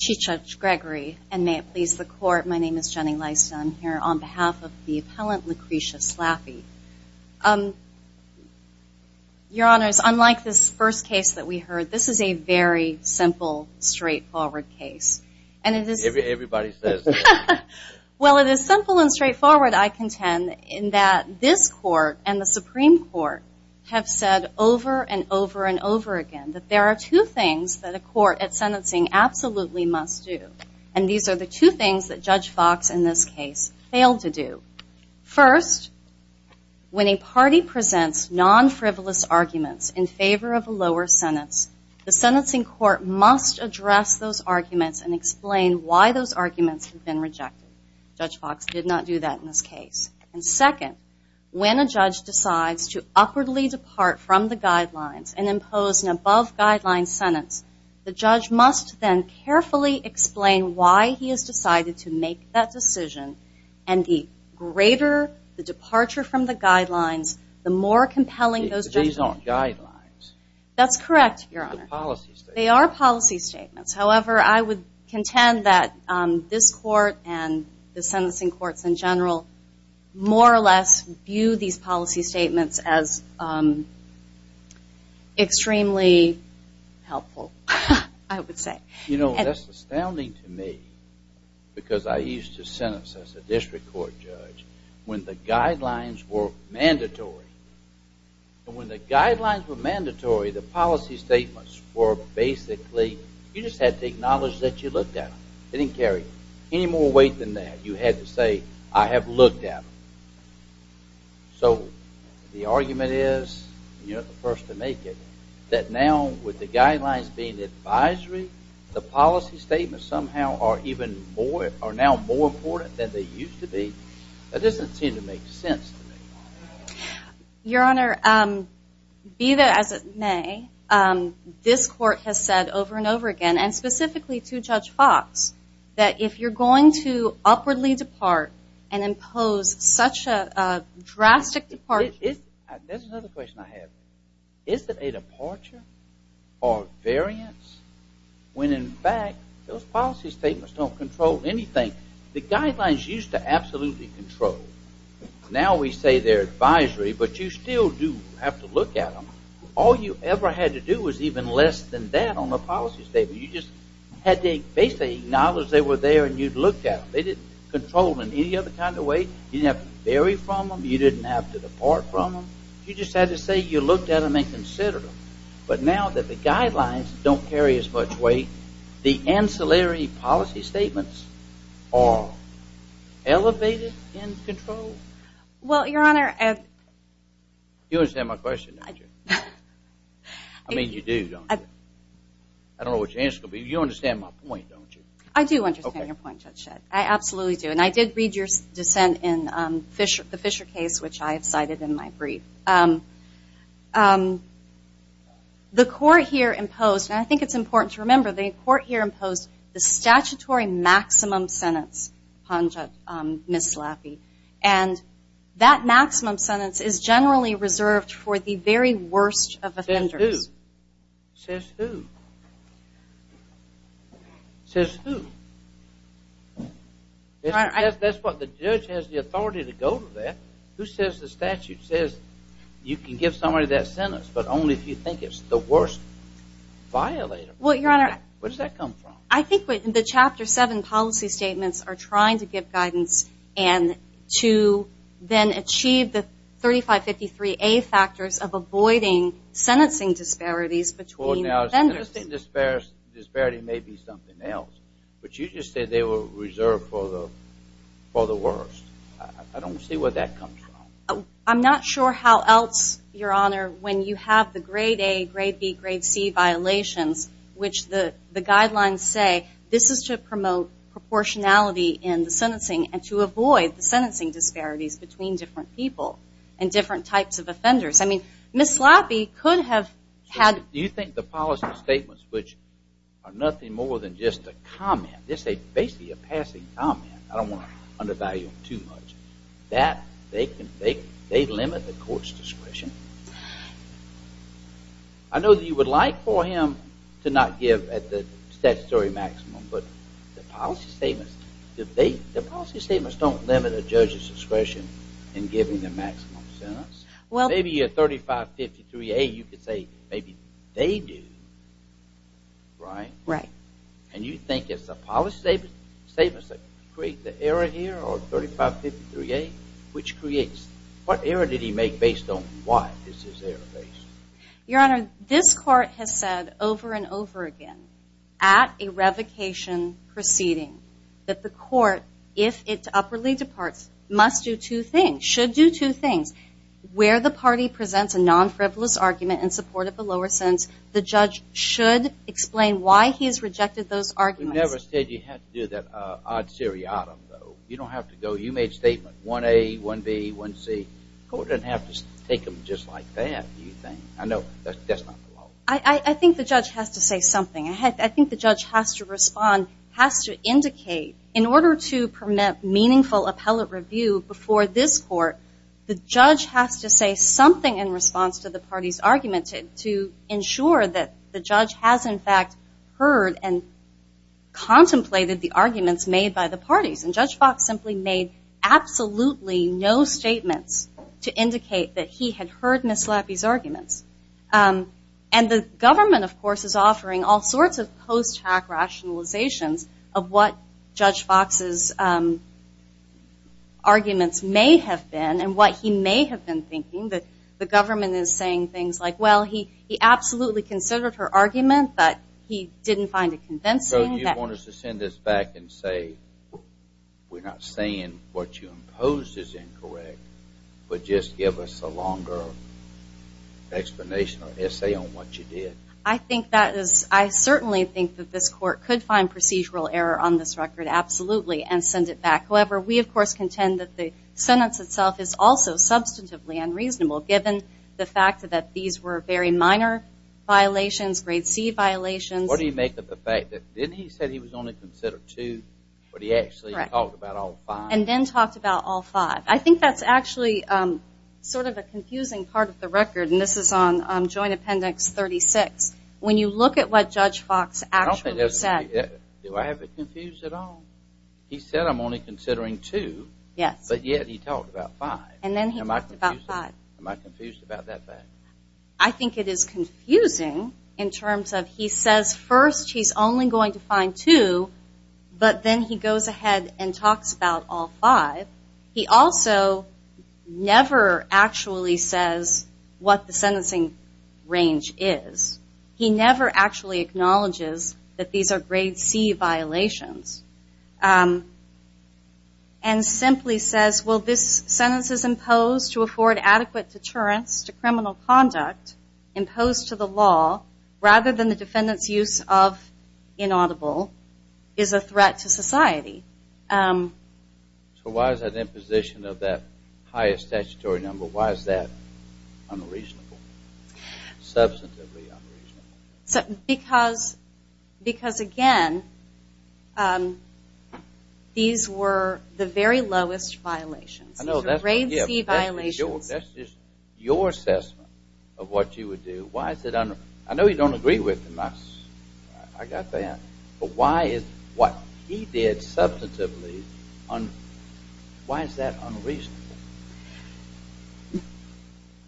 Chief Judge Gregory, and may it please the Court, my name is Jenny Lysdon here on behalf of the appellant Lacresha Slappy. Your Honors, unlike this first case that we heard, this is a very simple, straightforward case. Everybody says that. Well, it is simple and straightforward, I contend, in that this Court and the Supreme Court have said over and over and over again that there are two things that a court at sentencing absolutely must do. And these are the two things that Judge Fox in this case failed to do. First, when a party presents non-frivolous arguments in favor of a lower sentence, the sentencing court must address those arguments and explain why those arguments have been rejected. Judge Fox did not do that in this case. And second, when a judge decides to awkwardly depart from the guidelines and impose an above-guideline sentence, the judge must then carefully explain why he has decided to make that decision. And the greater the departure from the guidelines, the more compelling those judgments are. These aren't guidelines. That's correct, Your Honor. They are policy statements. However, I would contend that this Court and the sentencing courts in general more or less view these policy statements as extremely helpful, I would say. You know, that's astounding to me, because I used to sentence as a district court judge when the guidelines were mandatory. When the guidelines were mandatory, the policy statements were basically, you just had to acknowledge that you looked at them. They didn't carry any more weight than that. You had to say, I have looked at them. So the argument is, you're not the first to make it, that now with the guidelines being advisory, the policy statements somehow are even more, are now more important than they used to be. That doesn't seem to make sense to me. Your Honor, be that as it may, this Court has said over and over again, and specifically to Judge Fox, that if you're going to upwardly depart and impose such a drastic departure... There's another question I have. Is it a departure or variance when, in fact, those policy statements don't control anything? The guidelines used to absolutely control. Now we say they're advisory, but you still do have to look at them. All you ever had to do was even less than that on the policy statement. You just had to basically acknowledge they were there and you'd looked at them. They didn't control in any other kind of way. You didn't have to vary from them. You didn't have to depart from them. You just had to say you looked at them and considered them. But now that the guidelines don't carry as much weight, the ancillary policy statements are elevated and controlled? Well, Your Honor... You understand my question, don't you? I mean, you do, don't you? I don't know what your answer is, but you understand my point, don't you? I do understand your point, Judge Shedd. I absolutely do. And I did read your dissent in the Fisher case, which I have cited in my brief. The Court here imposed, and I think it's important to remember, the Court here imposed the statutory maximum sentence on Ms. Laffey. And that maximum sentence is generally reserved for the very worst of offenders. Says who? Says who? That's what the judge has the authority to go to that. Who says the statute says you can give somebody that sentence, but only if you think it's the worst violator. Well, Your Honor... Where does that come from? I think the Chapter 7 policy statements are trying to give guidance and to then achieve the 3553A factors of avoiding sentencing disparities between offenders. Well, now, sentencing disparity may be something else. But you just said they were reserved for the worst. I don't see where that comes from. I'm not sure how else, Your Honor, when you have the grade A, grade B, grade C violations, which the guidelines say this is to promote proportionality in the sentencing and to avoid the sentencing disparities between different people and different types of offenders. Ms. Laffey could have had... Do you think the passing comment, I don't want to undervalue him too much, that they limit the court's discretion? I know that you would like for him to not give at the statutory maximum, but the policy statements don't limit a judge's discretion in giving the maximum sentence. Maybe a 3553A, you could say maybe they do, right? Right. And you think it's the policy statements that create the error here or 3553A, which creates... What error did he make based on why this is error based? Your Honor, this court has said over and over again at a revocation proceeding that the court, if it uprightly departs, must do two things, should do two things. Where the party presents a non-frivolous argument in support of the lower sentence, the judge should explain why he has rejected those arguments. You never said you had to do that odd seriatim, though. You don't have to go... You made statement 1A, 1B, 1C. The court doesn't have to take them just like that, do you think? I think the judge has to say something. I think the judge has to respond, has to indicate. In order to permit meaningful appellate review before this court, the judge has to say something in response to the party's argument to ensure that the judge has, in fact, heard and contemplated the arguments made by the parties. And Judge Fox simply made absolutely no statements to indicate that he had heard Ms. Lappe's arguments. And the government, of course, is offering all sorts of post-hack rationalizations of what Judge Fox's arguments may have been and what he may have been thinking. The government is saying things like, well, he absolutely considered her argument, but he didn't find it convincing. So you want us to send this back and say, we're not saying what you imposed is incorrect, but just give us a longer explanation or essay on what you did. I think that is... I certainly think that this court could find procedural error on this record, absolutely, and send it back. However, we of course contend that the sentence itself is also substantively unreasonable, given the fact that these were very minor violations, grade C violations. What do you make of the fact that he said he was only considering two, but he actually talked about all five? And then talked about all five. I think that's actually sort of a confusing part of the record, and this is on Joint Appendix 36. When you look at what Judge Fox actually said... Do I have it confused at all? He said I'm only considering two, but yet he talked about five. And then he talked about five. Am I confused about that fact? I think it is confusing in terms of he says first he's only going to find two, but then he goes ahead and talks about all five. He also never actually says what the sentencing range is. He never actually acknowledges that these are grade C violations, and simply says, well, this sentence is imposed to afford adequate deterrence to criminal conduct imposed to the law, rather than the defendant's use of inaudible is a threat to society. So why is that imposition of that highest statutory number, why is that unreasonable? Substantively unreasonable? Because again, these were the very lowest violations. These are grade C violations. That's just your assessment of what you would do. I know you don't agree with him. I got that. But why is what he did substantively unreasonable? Why is that unreasonable?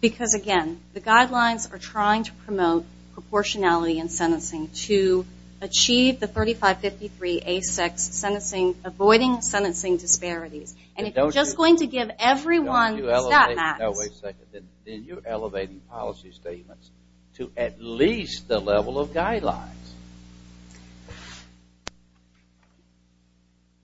Because, again, the guidelines are trying to promote proportionality in sentencing to achieve the 3553A6, Avoiding Sentencing Disparities. And if you're just going to give everyone a stat max, then you're elevating policy statements to at least the level of guidelines.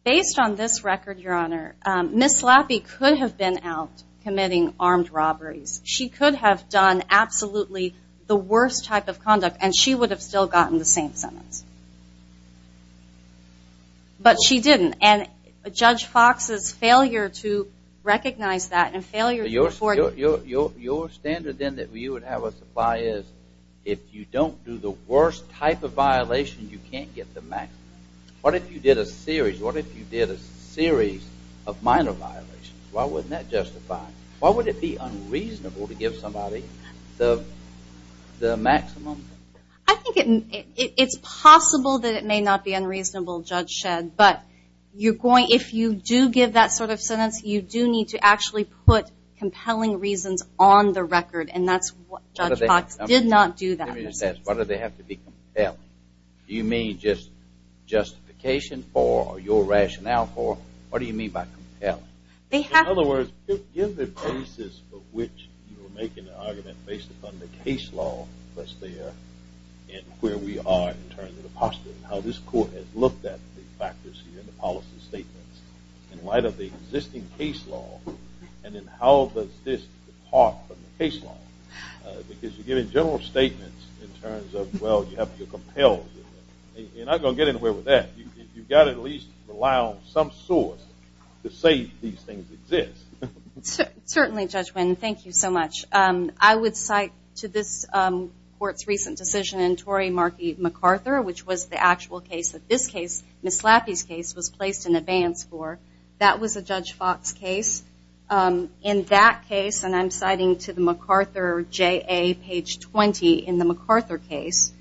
Based on this record, Your Honor, Ms. Lappie could have been out committing armed robberies. She could have done absolutely the worst type of conduct, and she would have still gotten the same sentence. But she didn't. And Judge Fox's failure to recognize that and failure to afford it. Your standard then that you would have us apply is, if you don't do the worst type of violation, you can't get the maximum. What if you did a series of minor violations? Why wouldn't that justify? Why would it be unreasonable to give somebody the maximum? It's possible that it may not be unreasonable, Judge Shedd. But if you do give that sort of sentence, you do need to actually put compelling reasons on the record. And that's what Judge Fox did not do that in her sentence. Let me just ask, why do they have to be compelling? Do you mean just justification for, or your rationale for, or do you mean by compelling? In other words, give the basis for which you are making an argument based upon the case law that's there and where we are in terms of the posture and how this Court has looked at the factors here, the policy statements, in light of the existing case law, and then how does this depart from the case law? Because you're giving general statements in terms of, well, you have to be compelled. You're not going to get anywhere with that. You've got to at least allow some source to say these things exist. Certainly, Judge Wynn. Thank you so much. I would cite to this Court's recent decision in Tory McCarthy, which was the actual case that this case, Ms. Laffey's case, was placed in advance for. That was a Judge Fox case. In that case, and I'm citing to the McArthur JA page 20 in the McArthur case,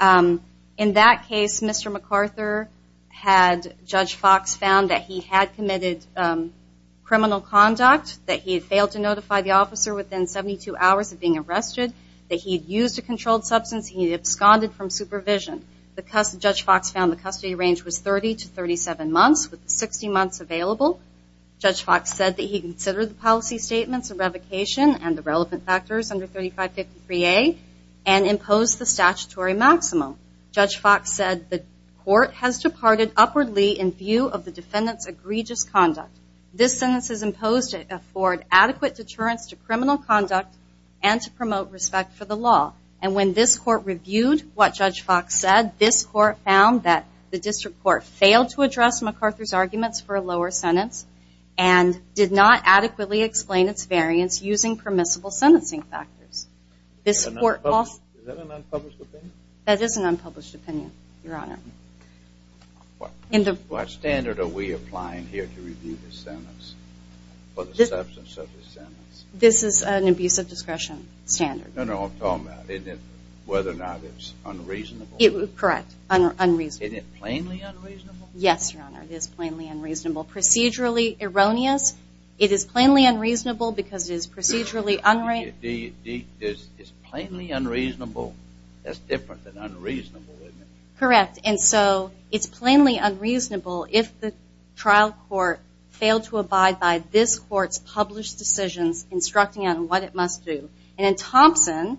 in that case, Mr. McArthur had, Judge Fox found that he had committed criminal conduct, that he had failed to notify the officer within 72 hours of being arrested, that he had used a controlled substance, he had absconded from supervision. Judge Fox found the custody range was 30 to 37 months, with 60 months available. Judge Fox said that he considered the policy statements, the revocation, and the relevant factors under 3553A, and imposed the statutory maximum. Judge Fox said the Court has departed upwardly in view of the defendant's egregious conduct. This sentence is imposed to afford adequate deterrence to criminal conduct, and to promote respect for the law. And when this Court reviewed what Judge Fox said, this Court found that the District Court failed to address McArthur's arguments for a lower sentence, and did not adequately explain its variance using permissible sentencing factors. This Court also... Is that an unpublished opinion? That is an unpublished opinion, Your Honor. What standard are we applying here to review the sentence, for the substance of the sentence? This is an abusive discretion standard. No, no, I'm talking about, isn't it, whether or not it's unreasonable? Correct. Unreasonable. Is it plainly unreasonable? Yes, Your Honor, it is plainly unreasonable. Procedurally erroneous, it is plainly unreasonable because it is procedurally... Is it plainly unreasonable? That's different than unreasonable, isn't it? Correct. And so, it's plainly unreasonable if the trial court failed to abide by this Court's published decisions instructing it on what it must do. And in Thompson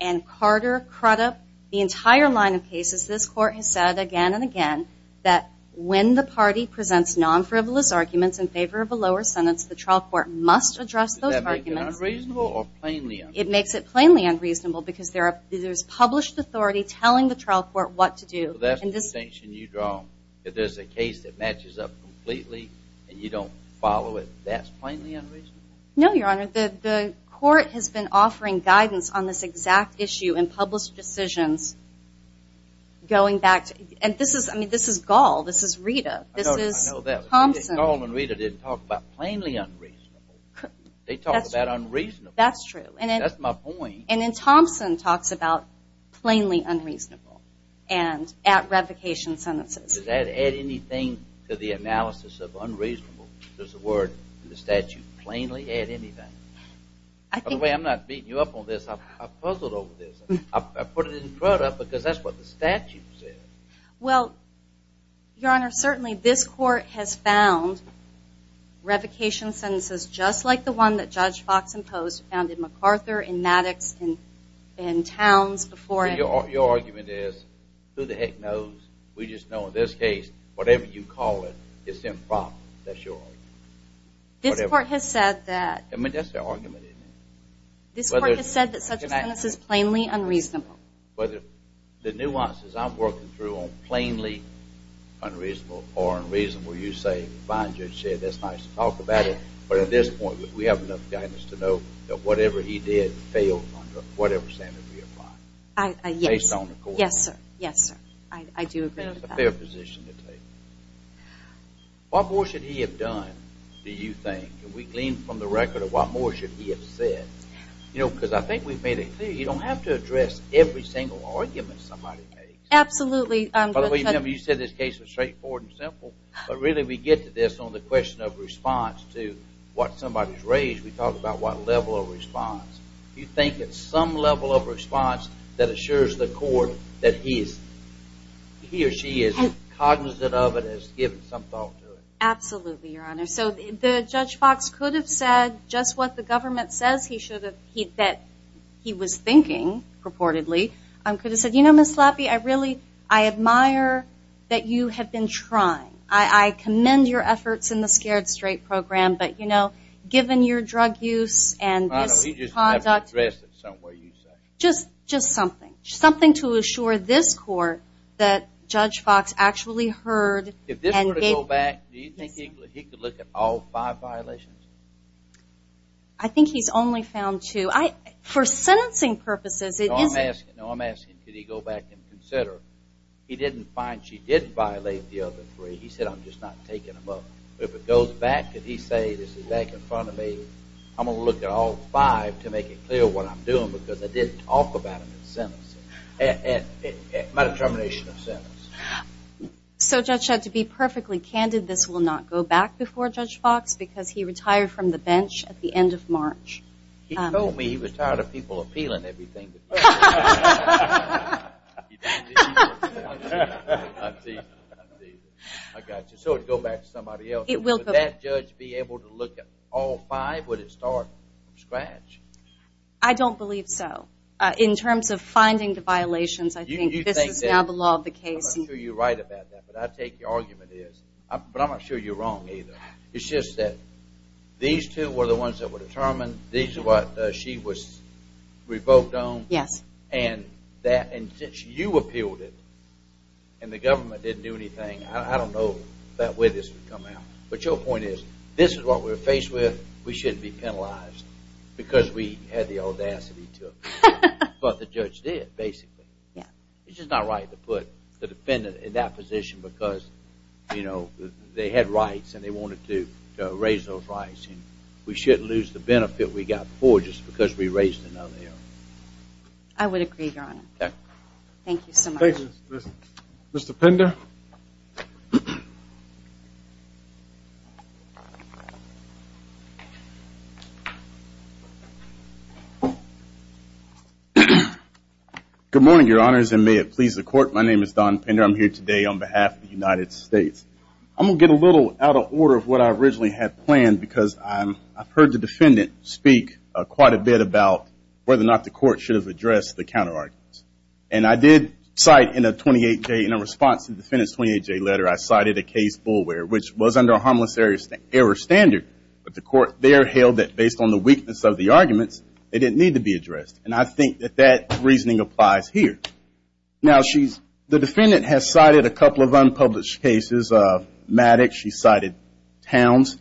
and Carter Crudup, the entire line of cases, this Court has said again and again that when the party presents non-frivolous arguments in favor of a lower sentence, the trial court must address those arguments. Does that make it unreasonable or plainly unreasonable? It makes it plainly unreasonable because there is published authority telling the trial court what to do. That's the distinction you draw, that there's a case that matches up completely and you don't follow it. That's plainly unreasonable? No, Your Honor. The Court has been offering guidance on this exact issue in published decisions going back to... And this is, I mean, this is Gall. This is Rita. This is Thompson. I know that. Gall and Rita didn't talk about plainly unreasonable. They talked about unreasonable. That's true. That's my point. And then Thompson talks about plainly unreasonable and at revocation sentences. Does that add anything to the analysis of unreasonable? Does the word in the statute plainly add anything? By the way, I'm not beating you up on this. I've puzzled over this. I put it in Crudup because that's what the statute says. Well, Your Honor, certainly this Court has found revocation sentences just like the one that Judge Fox imposed found in MacArthur, in Maddox, in Towns before... Your argument is, who the heck knows? We just don't know. In this case, whatever you call it, it's improper. That's your argument. This Court has said that... I mean, that's their argument, isn't it? This Court has said that such a sentence is plainly unreasonable. But the nuances I'm working through on plainly unreasonable or unreasonable, you say, fine, Judge Shea. That's nice to talk about it. But at this point, we have enough guidance to know that whatever he did failed under whatever standard we apply. Yes, sir. I do agree with that. It's a fair position to take. What more should he have done, do you think? Can we glean from the record of what more should he have said? You know, because I think we've made it clear you don't have to address every single argument somebody makes. Absolutely. By the way, you said this case was straightforward and simple, but really we get to this on the question of response to what somebody's raised. We talk about what level of response. Do you think it's some level of response that assures the Court that he or she is cognizant of it and has given some thought to it? Absolutely, Your Honor. So Judge Fox could have said just what the government says he should have... that he was thinking purportedly. He could have said, you know, Ms. Lappe, I admire that you have been trying. I commend your efforts in the Scared Straight Program, but you know, given your drug use and this conduct... No, no, he just never addressed it somewhere, you say. Just something. Something to assure this Court that Judge Fox actually heard and gave... If this were to go back, do you think he could look at all five violations? I think he's only found two. For sentencing purposes, it isn't... No, I'm asking, could he go back and consider, he didn't find she did violate the other three. He said, I'm just not taking them up. If it goes back, could he say, this is back in front of me, I'm going to look at all five to make it clear what I'm doing because I didn't talk about it in sentencing. My determination of sentence. So Judge, to be perfectly candid, this will not go back before Judge Fox because he retired from the bench at the end of March. He told me he was tired of people appealing everything to him. So it would go back to somebody else. Would that judge be able to look at all five? Would it start from scratch? I don't believe so. In terms of finding the violations, I think this is now the law of the case. I'm not sure you're right about that, but I take your argument is. But I'm not sure you're wrong either. It's just that these two were the ones that were determined. These are what she was revoked on. And since you appealed it and the government didn't do anything, I don't know that way this would come out. But your point is, this is what we're faced with. We shouldn't be penalized because we had the audacity to. But the judge did, basically. It's just not right to put the defendant in that position because they had rights and they wanted to raise those rights. We shouldn't lose the benefit we got before just because we raised another. I would agree, Your Honor. Thank you so much. Mr. Pender? Good morning, Your Honors, and may it please the Court. My name is Don Pender. I'm here today on behalf of the United States. I'm going to get a little out of order of what I originally had planned because I've heard the defendant speak quite a bit about whether or not the Court should have addressed the counter-arguments. And I did cite in a response to the defendant's 28-J letter, I cited a case, Boulware, which was under a harmless error standard. But the Court there held that based on the weakness of the arguments, they didn't need to be addressed. And I think that that reasoning applies here. Now, the defendant has cited a couple of unpublished cases. Maddox, she cited Towns.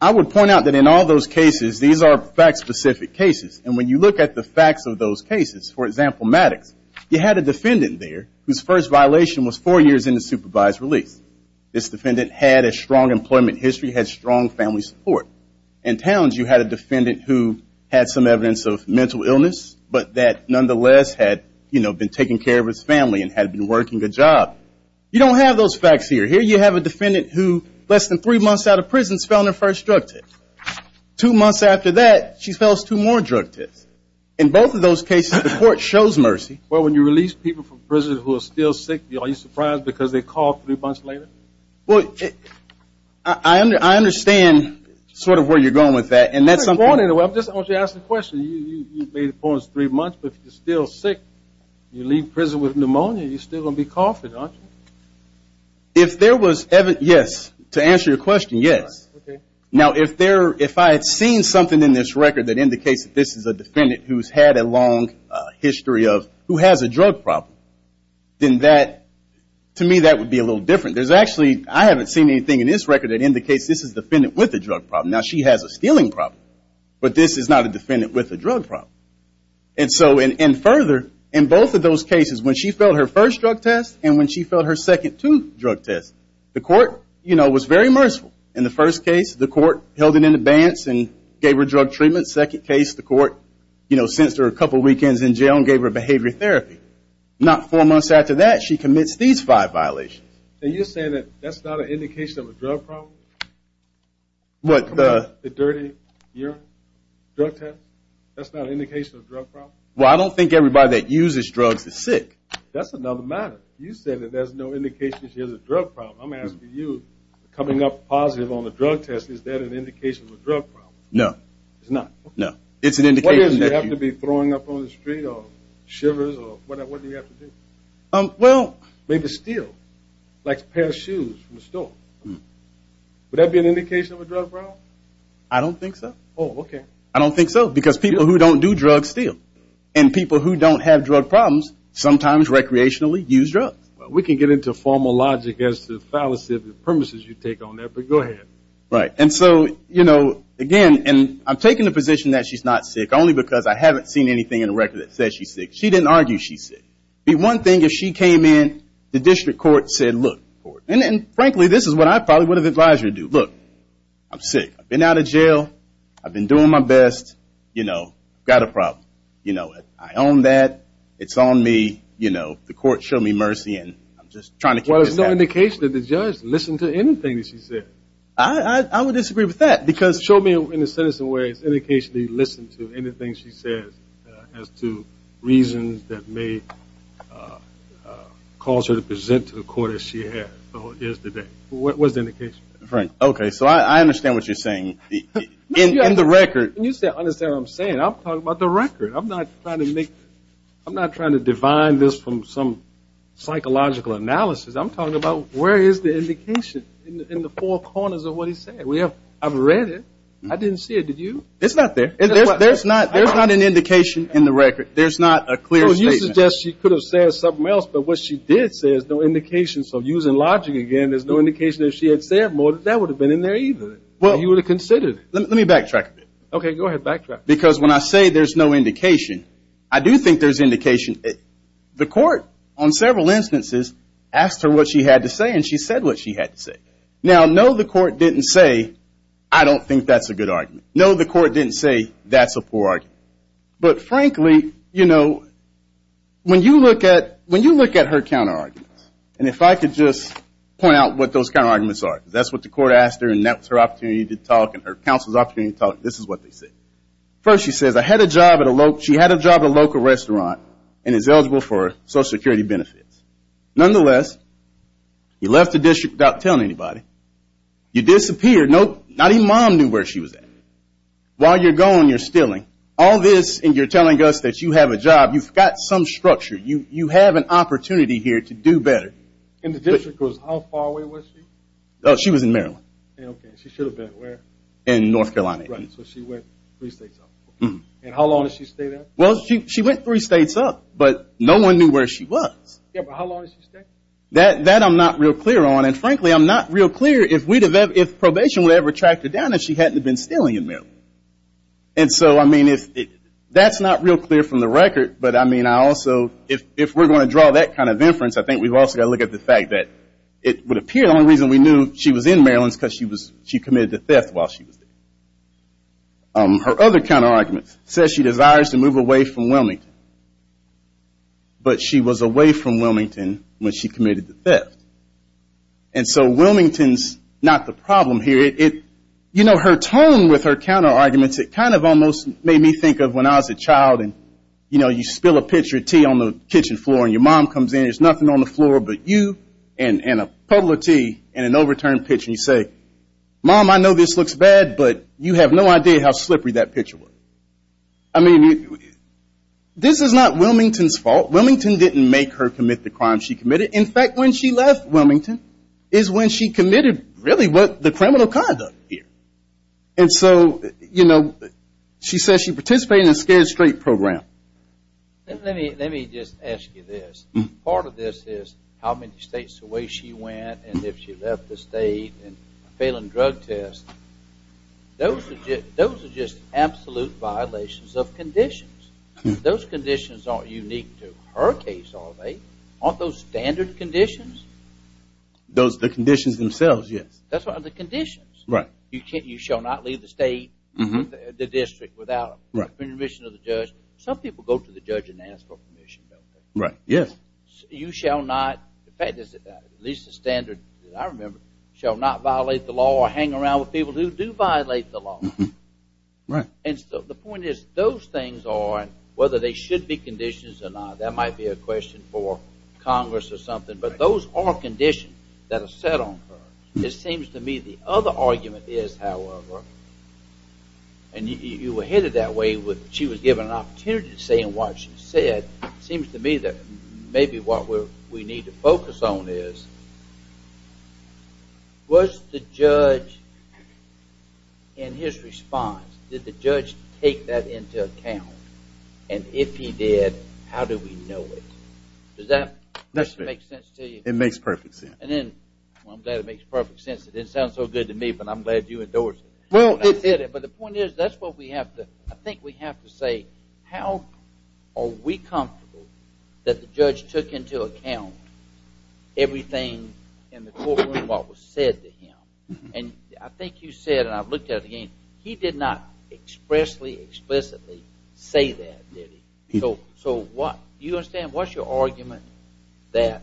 I would point out that in all those cases, these are fact-specific cases. And when you look at the facts of those cases, for example, Maddox, you had a defendant there whose first violation was four years into supervised release. This defendant had a strong employment history, had strong family support. In Towns, you had a defendant who had some evidence of mental illness, but that had been taken care of his family and had been working a job. You don't have those facts here. Here you have a defendant who less than three months out of prison, fell on her first drug test. Two months after that, she fells two more drug tests. In both of those cases, the Court shows mercy. Well, when you release people from prison who are still sick, are you surprised because they call three months later? I understand sort of where you're going with that. I'm not going anywhere. I just want you to ask the question. You made the point it was three months, but if you're still sick, you leave prison with pneumonia, you're still going to be coughing, aren't you? If there was evidence, yes. To answer your question, yes. Now, if I had seen something in this record that indicates that this is a defendant who has had a long history of who has a drug problem, then to me that would be a little different. I haven't seen anything in this record that indicates this is a defendant with a drug problem. Now, she has a stealing problem, but this is not a defendant with a drug problem. And so, and further, in both of those cases, when she fell on her first drug test and when she fell on her second two drug tests, the Court, you know, was very merciful. In the first case, the Court held it in advance and gave her drug treatment. Second case, the Court, you know, sent her a couple weekends in jail and gave her behavior therapy. Not four months after that, she commits these five violations. Are you saying that that's not an indication of a drug problem? What? The dirty urine drug test? That's not an indication of a drug problem? Well, I don't think everybody that uses drugs is sick. That's another matter. You said that there's no indication that she has a drug problem. I'm asking you, coming up positive on the drug test, is that an indication of a drug problem? No. It's not? No. It's an indication that you What is it? You have to be throwing up on the street or shivers or whatever? What do you have to do? Well Maybe steal. Like a pair of shoes from the store. Would that be an indication of a drug problem? I don't think so. Oh, okay. I don't think so. Because people who don't do drugs steal. And people who don't have drug problems sometimes recreationally use drugs. We can get into formal logic as to the fallacy of the premises you take on that, but go ahead. Right. And so, you know, again, and I'm taking the position that she's not sick only because I haven't seen anything in the record that says she's sick. She didn't argue she's sick. The one thing, if she came in, the District Court said, look, and frankly, this is what I probably would have advised her to do. Look, I'm sick. I've been out of jail. I've been doing my best. You know, I've got a problem. You know it. I own that. It's on me. You know, the court showed me mercy and I'm just trying to keep this happening. Well, there's no indication that the judge listened to anything that she said. I would disagree with that because Show me in a citizen way an indication that you listened to anything she says as to reasons that may cause her to present to the court as she has or is today. What's the indication? Frank, okay, so I understand what you're saying. In the record When you say I understand what I'm saying, I'm talking about the record. I'm not trying to make, I'm not trying to define this from some psychological analysis. I'm talking about where is the indication in the four corners of what he said. I've read it. I didn't see it. Did you? It's not there. So you suggest she could have said something else, but what she did say is no indication. So using logic again, there's no indication if she had said more, that would have been in there either. You would have considered it. Let me backtrack a bit. Okay, go ahead, backtrack. Because when I say there's no indication, I do think there's indication. The court, on several instances, asked her what she had to say and she said what she had to say. Now, no, the court didn't say, I don't think that's a good argument. No, the court didn't say, that's a poor argument. But frankly, you know, when you look at her counterarguments, and if I could just point out what those counterarguments are, because that's what the court asked her and that was her opportunity to talk and her counsel's opportunity to talk, this is what they said. First, she says, I had a job at a local, she had a job at a local restaurant and is eligible for Social Security benefits. Nonetheless, you left the district without telling anybody. You disappeared, not even mom knew where she was at. While you're gone, you're stealing. All this and you're telling us that you have a job, you've got some structure, you have an opportunity here to do better. In the district, how far away was she? She was in Maryland. Okay, she should have been where? In North Carolina. Right, so she went three states up. And how long did she stay there? Well, she went three states up, but no one knew where she was. Yeah, but how long did she stay? That I'm not real clear on, and frankly, I'm not real clear if probation would ever track her down if she hadn't been stealing in Maryland. And so, I mean, that's not real clear from the record, but I mean, I also, if we're going to draw that kind of inference, I think we've also got to look at the fact that it would appear the only reason we knew she was in Maryland is because she committed the theft while she was there. Her other counterargument says she desires to move away from Wilmington, but she was away from Wilmington when she committed the theft. And so, Wilmington's not the problem here. You know, her tone with her counterarguments, it kind of almost made me think of when I was a child and, you know, you spill a pitcher of tea on the kitchen floor and your mom comes in, there's nothing on the floor but you and a cup of tea and an overturned pitcher and you say, Mom, I know this looks bad, but you have no idea how slippery that pitcher was. I mean, this is not Wilmington's fault. Wilmington didn't make her commit the crime she committed. In fact, when she left Wilmington is when she committed really the criminal conduct here. And so, you know, she says she participated in a scared straight program. Let me just ask you this. Part of this is how many states away she went and if she left the state and failing drug tests, those are just absolute violations of conditions. Those conditions aren't unique to her case, are they? Aren't those standard conditions? Those are the conditions themselves, yes. Those are the conditions. Right. You shall not leave the state, the district, without permission of the judge. Some people go to the judge and ask for permission, don't they? Right. Yes. You shall not, in fact, at least the standard that I remember, shall not violate the law or hang around with people who do violate the law. Right. And so the point is, those things are, whether they should be conditions or not, that might be a question for Congress or something, but those are conditions that are set on her. It seems to me the other argument is, however, and you were headed that way, she was given an opportunity to say what she said, it seems to me that maybe what we need to focus on is, was the judge, in his response, did the judge take that into account? And if he did, how do we know it? Does that make sense to you? It makes perfect sense. Well, I'm glad it makes perfect sense. It didn't sound so good to me, but I'm glad you endorsed it. But the point is, that's what we have to, I think we have to say, how are we comfortable that the judge took into account everything in the courtroom, what was said to him? And I think you said, and I've looked at it again, he did not expressly, explicitly, say that, did he? So what, do you understand, what's your argument that,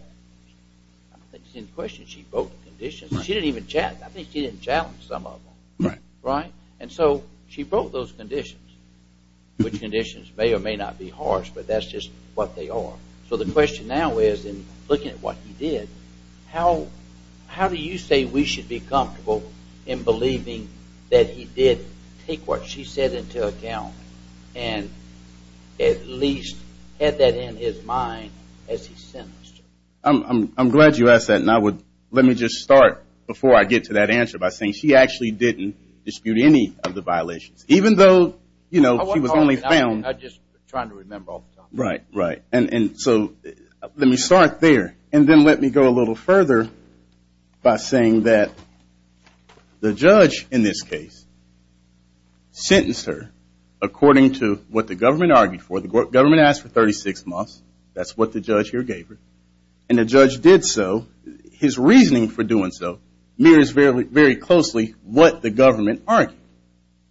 I think she's in question, she broke the conditions, she didn't even challenge, I think she didn't challenge some of them. Right. Right? And so she broke those conditions, which conditions may or may not be harsh, but that's just what they are. So the question now is, in looking at what he did, how do you say we should be comfortable in believing that he did take what she said into account, and at least had that in his mind as he sentenced her? I'm glad you asked that, and I would, let me just start before I get to that answer by saying she actually didn't dispute any of the violations. Even though, you know, she was only found... I'm just trying to remember all the time. Right. Right. And so, let me start there, and then let me go a little further by saying that the judge, in this case, sentenced her according to what the government argued for. The government asked for 36 months, that's what the judge here gave her, and the judge did so, his reasoning for doing so, mirrors very closely what the government argued.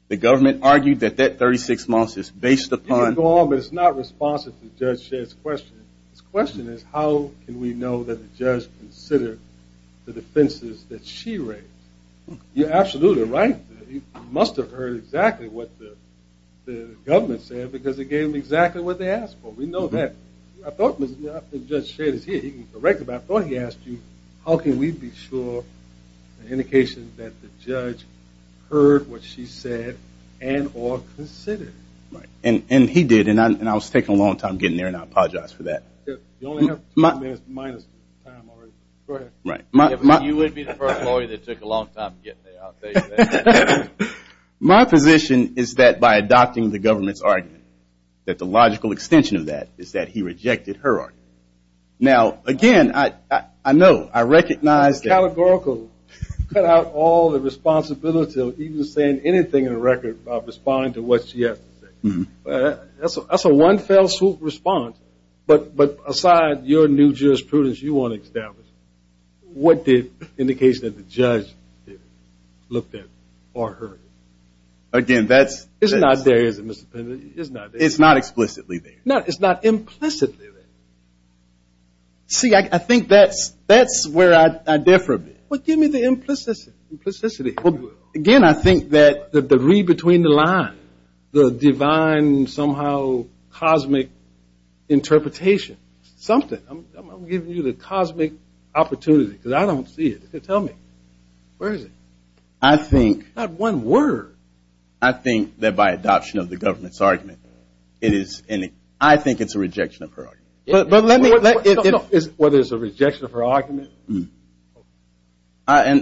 The government argued that that 36 months is based upon... You can go on, but it's not responsive to Judge Shedd's question. His question is, how can we know that the judge considered the defenses that she raised? You're absolutely right. He must have heard exactly what the government said, because it gave him exactly what they asked for. We know that. I thought Judge Shedd is here, he can correct it, but I thought he asked you, how can we be sure the indication that the judge heard what she said, and or considered it? Right. And he did, and I was taking a long time getting there, and I apologize for that. You only have two minutes minus. Go ahead. Right. You would be the first lawyer that took a long time getting there. I'll take that. My position is that by adopting the government's argument, that the logical extension of that is that he rejected her argument. Now, again, I know, I recognize... Categorical. Cut out all the responsibility of even saying anything in the record about responding to what she has to say. That's a one-fell-swoop response, but aside your new jurisprudence you want to establish, what did the indication that the judge looked at or heard? Again, that's... It's not there, is it, Mr. Pendleton? It's not there. It's not explicitly there. No, it's not implicitly there. See, I think that's where I differ a bit. Well, give me the implicitity. Again, I think that the read between the lines, the divine somehow cosmic interpretation, something, I'm giving you the cosmic opportunity because I don't see it. Tell me. Where is it? I think... Not one word. I think that by adoption of the government's argument, it is... I think it's a rejection of her argument. But let me... What is a rejection of her argument? Let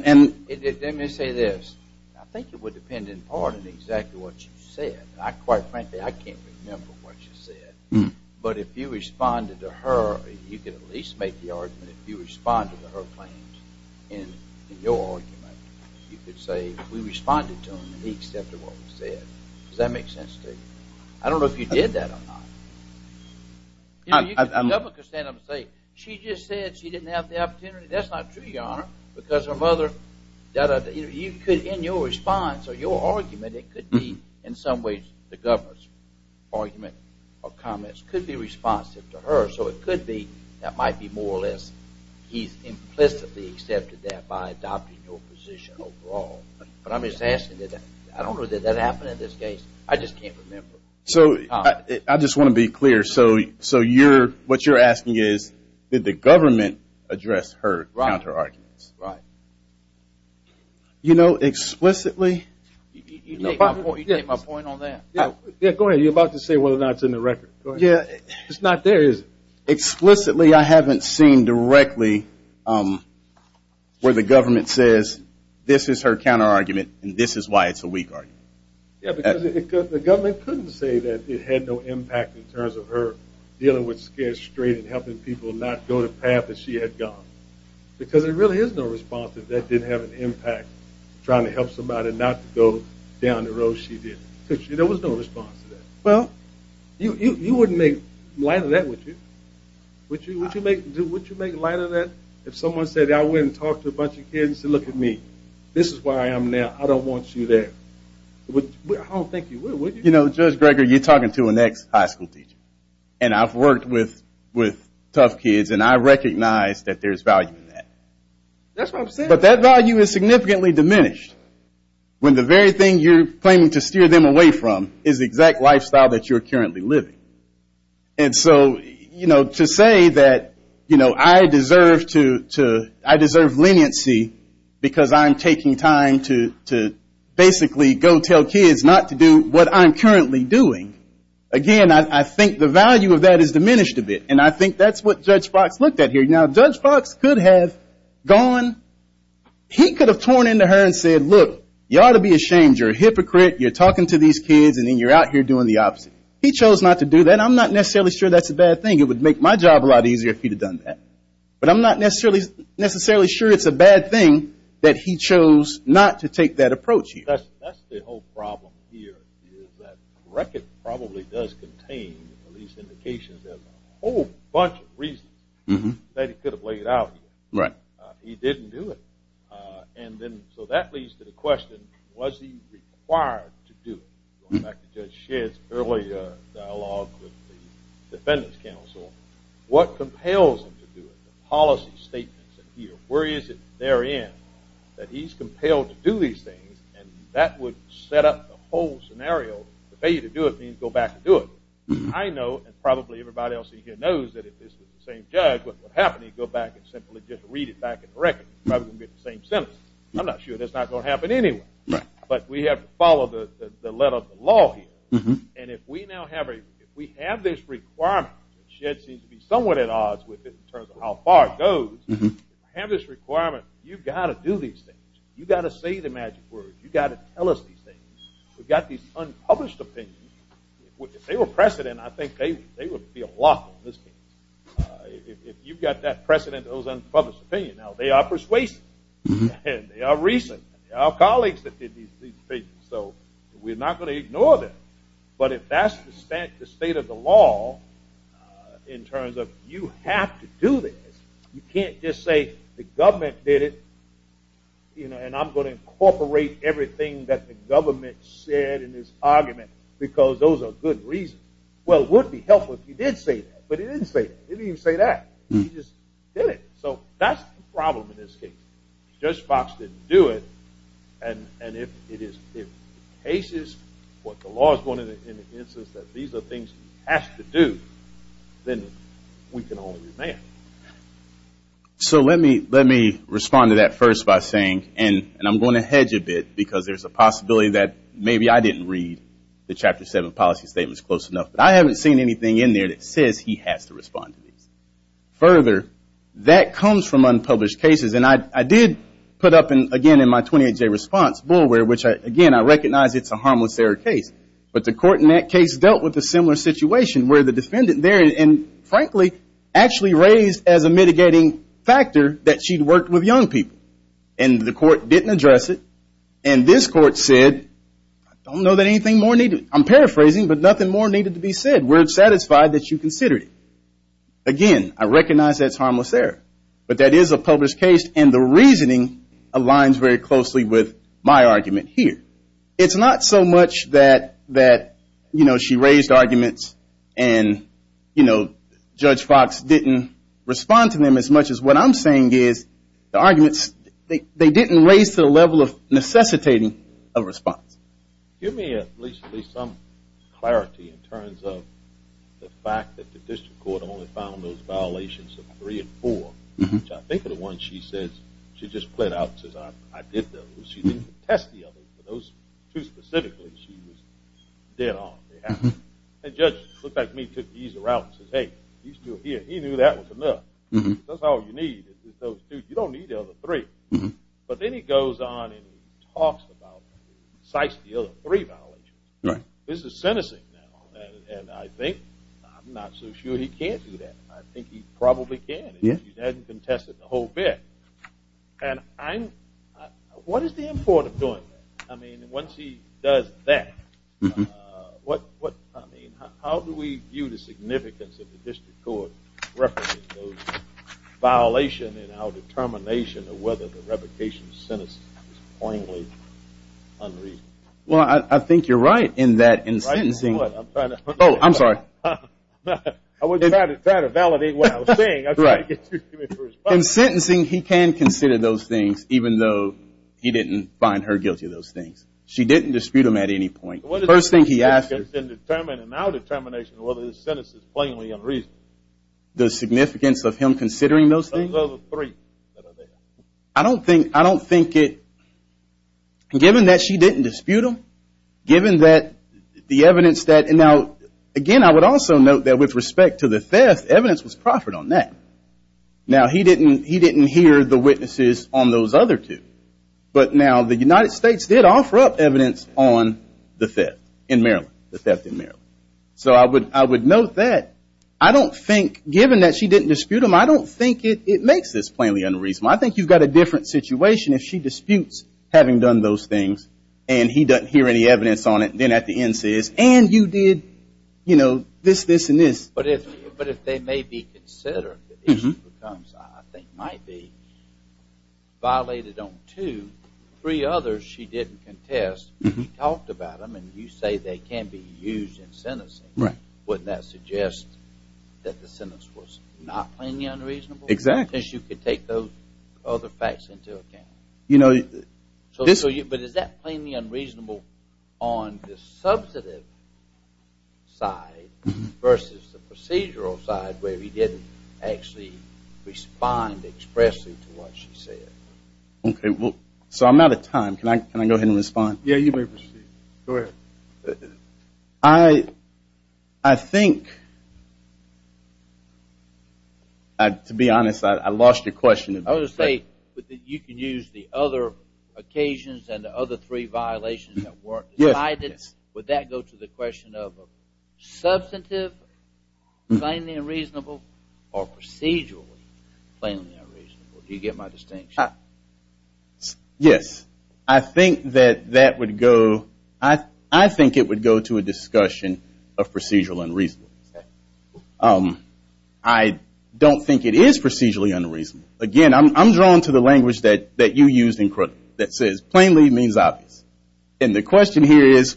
me say this. I think it would depend in part on exactly what you said. Quite frankly, I can't remember what you said. But if you responded to her, you could at least make the argument, if you responded to her claims in your argument, you could say, we responded to him and he accepted what we said. Does that make sense to you? I don't know if you did that or not. The government could stand up and say, she just said she didn't have the opportunity. That's not true, Your Honor, because her mother... You could, in your response or your argument, it could be in some ways the government's argument or comments could be responsive to her. So it could be that might be more or less, he's implicitly accepted that by adopting your position overall. But I'm just asking that... I don't know that that happened in this case. I just can't remember. So I just want to be clear. So what you're asking is, did the government address her counter-arguments? Right. You know, explicitly... You take my point on that. Yeah, go ahead. You're about to say whether or not it's in the record. It's not there, is it? Explicitly, I haven't seen directly where the government says, this is her counter-argument and this is why it's a weak argument. Yeah, because the government couldn't say that it had no impact in terms of her dealing with Scarce Street and helping people not go the path that she had gone. Because there really is no response that that didn't have an impact trying to help somebody not to go down the road she did. There was no response to that. Well, you wouldn't make light of that, would you? Would you make light of that if someone said, I went and talked to a bunch of kids and said, look at me. This is where I am now. I don't want you there. I don't think you would, would you? You know, Judge Greger, you're talking to an ex-high school teacher. And I've worked with tough kids and I recognize that there's value in that. That's what I'm saying. But that value is significantly diminished when the very thing you're claiming to steer them away from is the exact lifestyle that you're currently living. And so, you know, to say that, you know, I deserve leniency because I'm taking time to basically go tell kids not to do what I'm currently doing. Again, I think the value of that is diminished a bit. And I think that's what Judge Fox looked at here. Now, Judge Fox could have gone, he could have torn into her and said, look, you ought to be ashamed. You're a hypocrite. You're talking to these kids and then you're out here doing the opposite. He chose not to do that. I'm not necessarily sure that's a bad thing. It would make my job a lot easier if he'd have done that. But I'm not necessarily sure it's a bad thing that he chose not to take that approach here. That's the whole problem here is that Greger probably does contain at least indications of a whole bunch of reasons that he could have laid out here. Right. He didn't do it. And then, so that leads to the question, was he required to do it? Going back to Judge Shedd's earlier dialogue with the Defendant's Counsel, what compels him to do it? The policy statements that here, where is it therein that he's compelled to do these things? And that would set up the whole scenario. To pay you to do it means go back and do it. I know, and probably everybody else here knows, that if this was the same judge, what would happen? He'd go back and simply just read it back and correct it. Probably going to get the same sentence. I'm not sure that's not going to happen anyway. But we have to follow the letter of the law here. And if we now have this requirement, and Shedd seems to be somewhat at odds with it in terms of how far it goes, if you have this requirement, you've got to do these things. You've got to say the magic word. You've got to tell us these things. We've got these unpublished opinions. If they were precedent, I think they would be a block on this case. If you've got that precedent, those unpublished opinions, they are persuasive. They are recent. They are colleagues that did these things. So we're not going to ignore them. But if that's the state of the law in terms of you have to do this, you can't just say the government did it and I'm going to incorporate everything that the government said in this argument because those are good reasons. Well, it would be helpful if you did say that. But you didn't say that. You just did it. So that's the problem in this case. Judge Fox didn't do it and if the case is what the law is going to be in the instance that these are things you have to do, then we can only remand. So let me respond to that first by saying and I'm going to hedge a bit because there's a possibility that maybe I didn't read the Chapter 7 policy statements close enough. But I haven't seen anything in there that says he has to respond to these. Further, that comes from unpublished cases and I did put up again in my 28-day response bulware which again I recognize it's a harmless error case. But the court in that case dealt with a similar situation where the defendant there and frankly actually raised as a mitigating factor that she'd worked with young people. And the court didn't address it and this court said I don't know that anything more needed. I'm paraphrasing but nothing more needed to be said. We're satisfied that you considered it. Again, I recognize that's harmless error. But that is a published case and the reasoning aligns very closely with my argument here. It's not so much that she raised arguments and Judge Fox didn't respond to them as much as what I'm saying is the arguments, they didn't raise to the level of necessitating a response. Give me at least some clarity in terms of the fact that the district court only found those violations of three and four which I think of the one she says she just played out and says I did those. She didn't contest the others but those two specifically she was dead on. And the judge looked back at me and took the easy route and says hey, he knew that was enough. That's all you need is those two. You don't need the other three. But then he goes on and he talks about the other three violations. This is sentencing now and I think I'm not so sure he can't do that. I think he probably can. He hasn't contested the whole bit. And I'm what is the import of doing that? I mean once he does that what I mean how do we view the significance of the district court referencing those violations of whether the revocation sentence is poignantly unreasonable? Well I think you're right in that in sentencing Oh, I'm sorry. I was trying to validate what I was saying. In sentencing he can consider those things even though he didn't find her guilty of those things. She didn't dispute them at any point. The first thing he asked in our determination whether the sentence is plainly unreasonable. The significance of him considering those things? Those other three. I don't think given that she didn't dispute them given that the evidence that now again I would also note that with respect to the theft evidence was proffered on that. Now he didn't hear the witnesses on those other two. But now the United States did offer up evidence on the theft in Maryland. The theft in Maryland. So I would note that I don't think given that she didn't dispute them I don't think it makes this plainly unreasonable. I think you've got a different situation if she disputes having done those things and he doesn't hear any evidence on it and then at the end says and you did this, this and this. But if they may be considered the issue becomes I think might be violated on two. Three others she didn't contest and she talked about them and you say they can be used in sentencing wouldn't that suggest that the sentence was not plainly unreasonable? Exactly. Because you could take those other facts into account. But is that plainly unreasonable on the substantive side versus the procedural side where he didn't actually respond expressly to what she said. So I'm out of time. Can I go ahead and respond? Yes, you may proceed. Go ahead. I think to be honest I lost your question. I was going to say you could use the other occasions and the other three violations that weren't decided. Would that go to the question of substantive plainly unreasonable or procedurally plainly unreasonable? Do you get my distinction? Yes. I think that that would go to a discussion of procedural unreasonable. I don't think it is procedurally unreasonable. Again, I'm drawn to the language that you used in critical that says plainly means obvious. And the question here is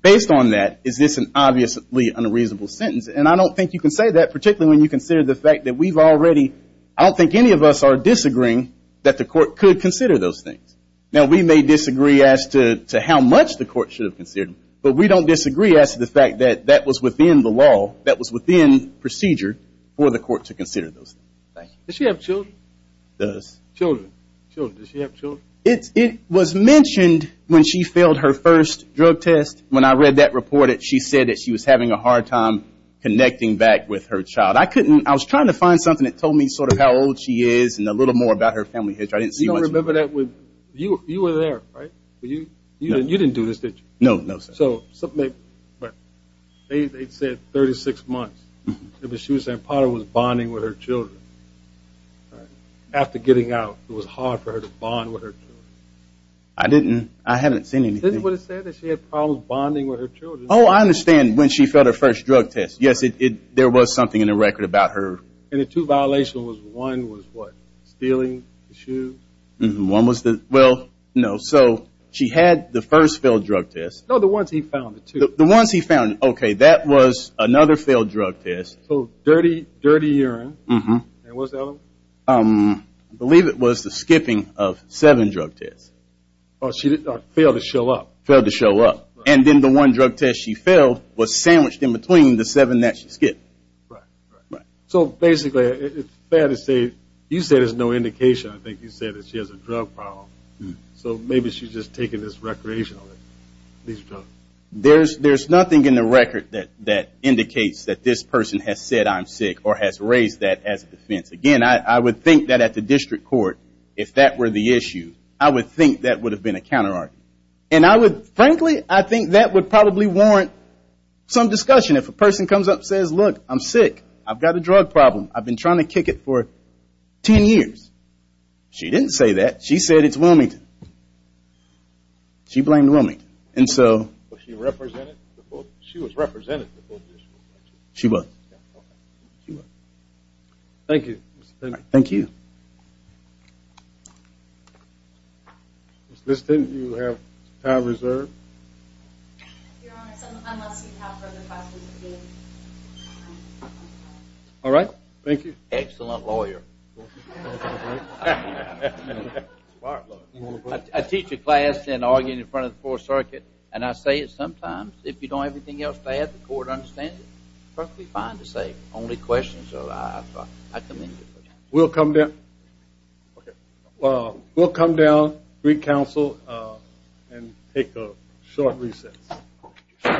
based on that is this an obviously unreasonable sentence? I don't think you can say that particularly when you consider the fact that we've already I don't think any of us are disagreeing that the court could consider those things. We may disagree as to how much the court should have considered them. But we don't disagree as to the fact that that was within the law that was within procedure for the court to consider those things. Does she have children? Does she have children? It was mentioned when she failed her first drug test. When I read that report she said she was having a hard time connecting back with her child. I was trying to find something that told me how old she is and a little more about her family. You didn't do this did you? They said 36 months. She was bonding with her children. After getting out it was hard for her to bond with her. I understand when she failed her first drug test. There was something in the record about her. Two violations. One was stealing shoes. She had the first failed drug test. The ones he found. That was another failed drug test. Dirty urine. What was the other one? I believe it was the skipping of seven drug tests. She failed to show up. The one drug test she failed was sandwiched between the seven she skipped. You said there is no indication she has a drug problem. Maybe she is just taking this recreationally. There is nothing in the record that indicates this person has said I am sick or raised that as a defense. I would think that would probably warrant some discussion. If a person says I am sick I have a drug problem I have been trying to kick it for 10 years. She didn't say that. She said it is Wilmington. She blamed Wilmington. She was represented. Thank you. You have time reserved. All right. Thank you. Excellent lawyer. I teach a class and argue in front of the fourth circuit and I say it sometimes. If you don't have anything else to add the court understands it. It is perfectly fine to say it. I commend you. We will come down and take a short recess.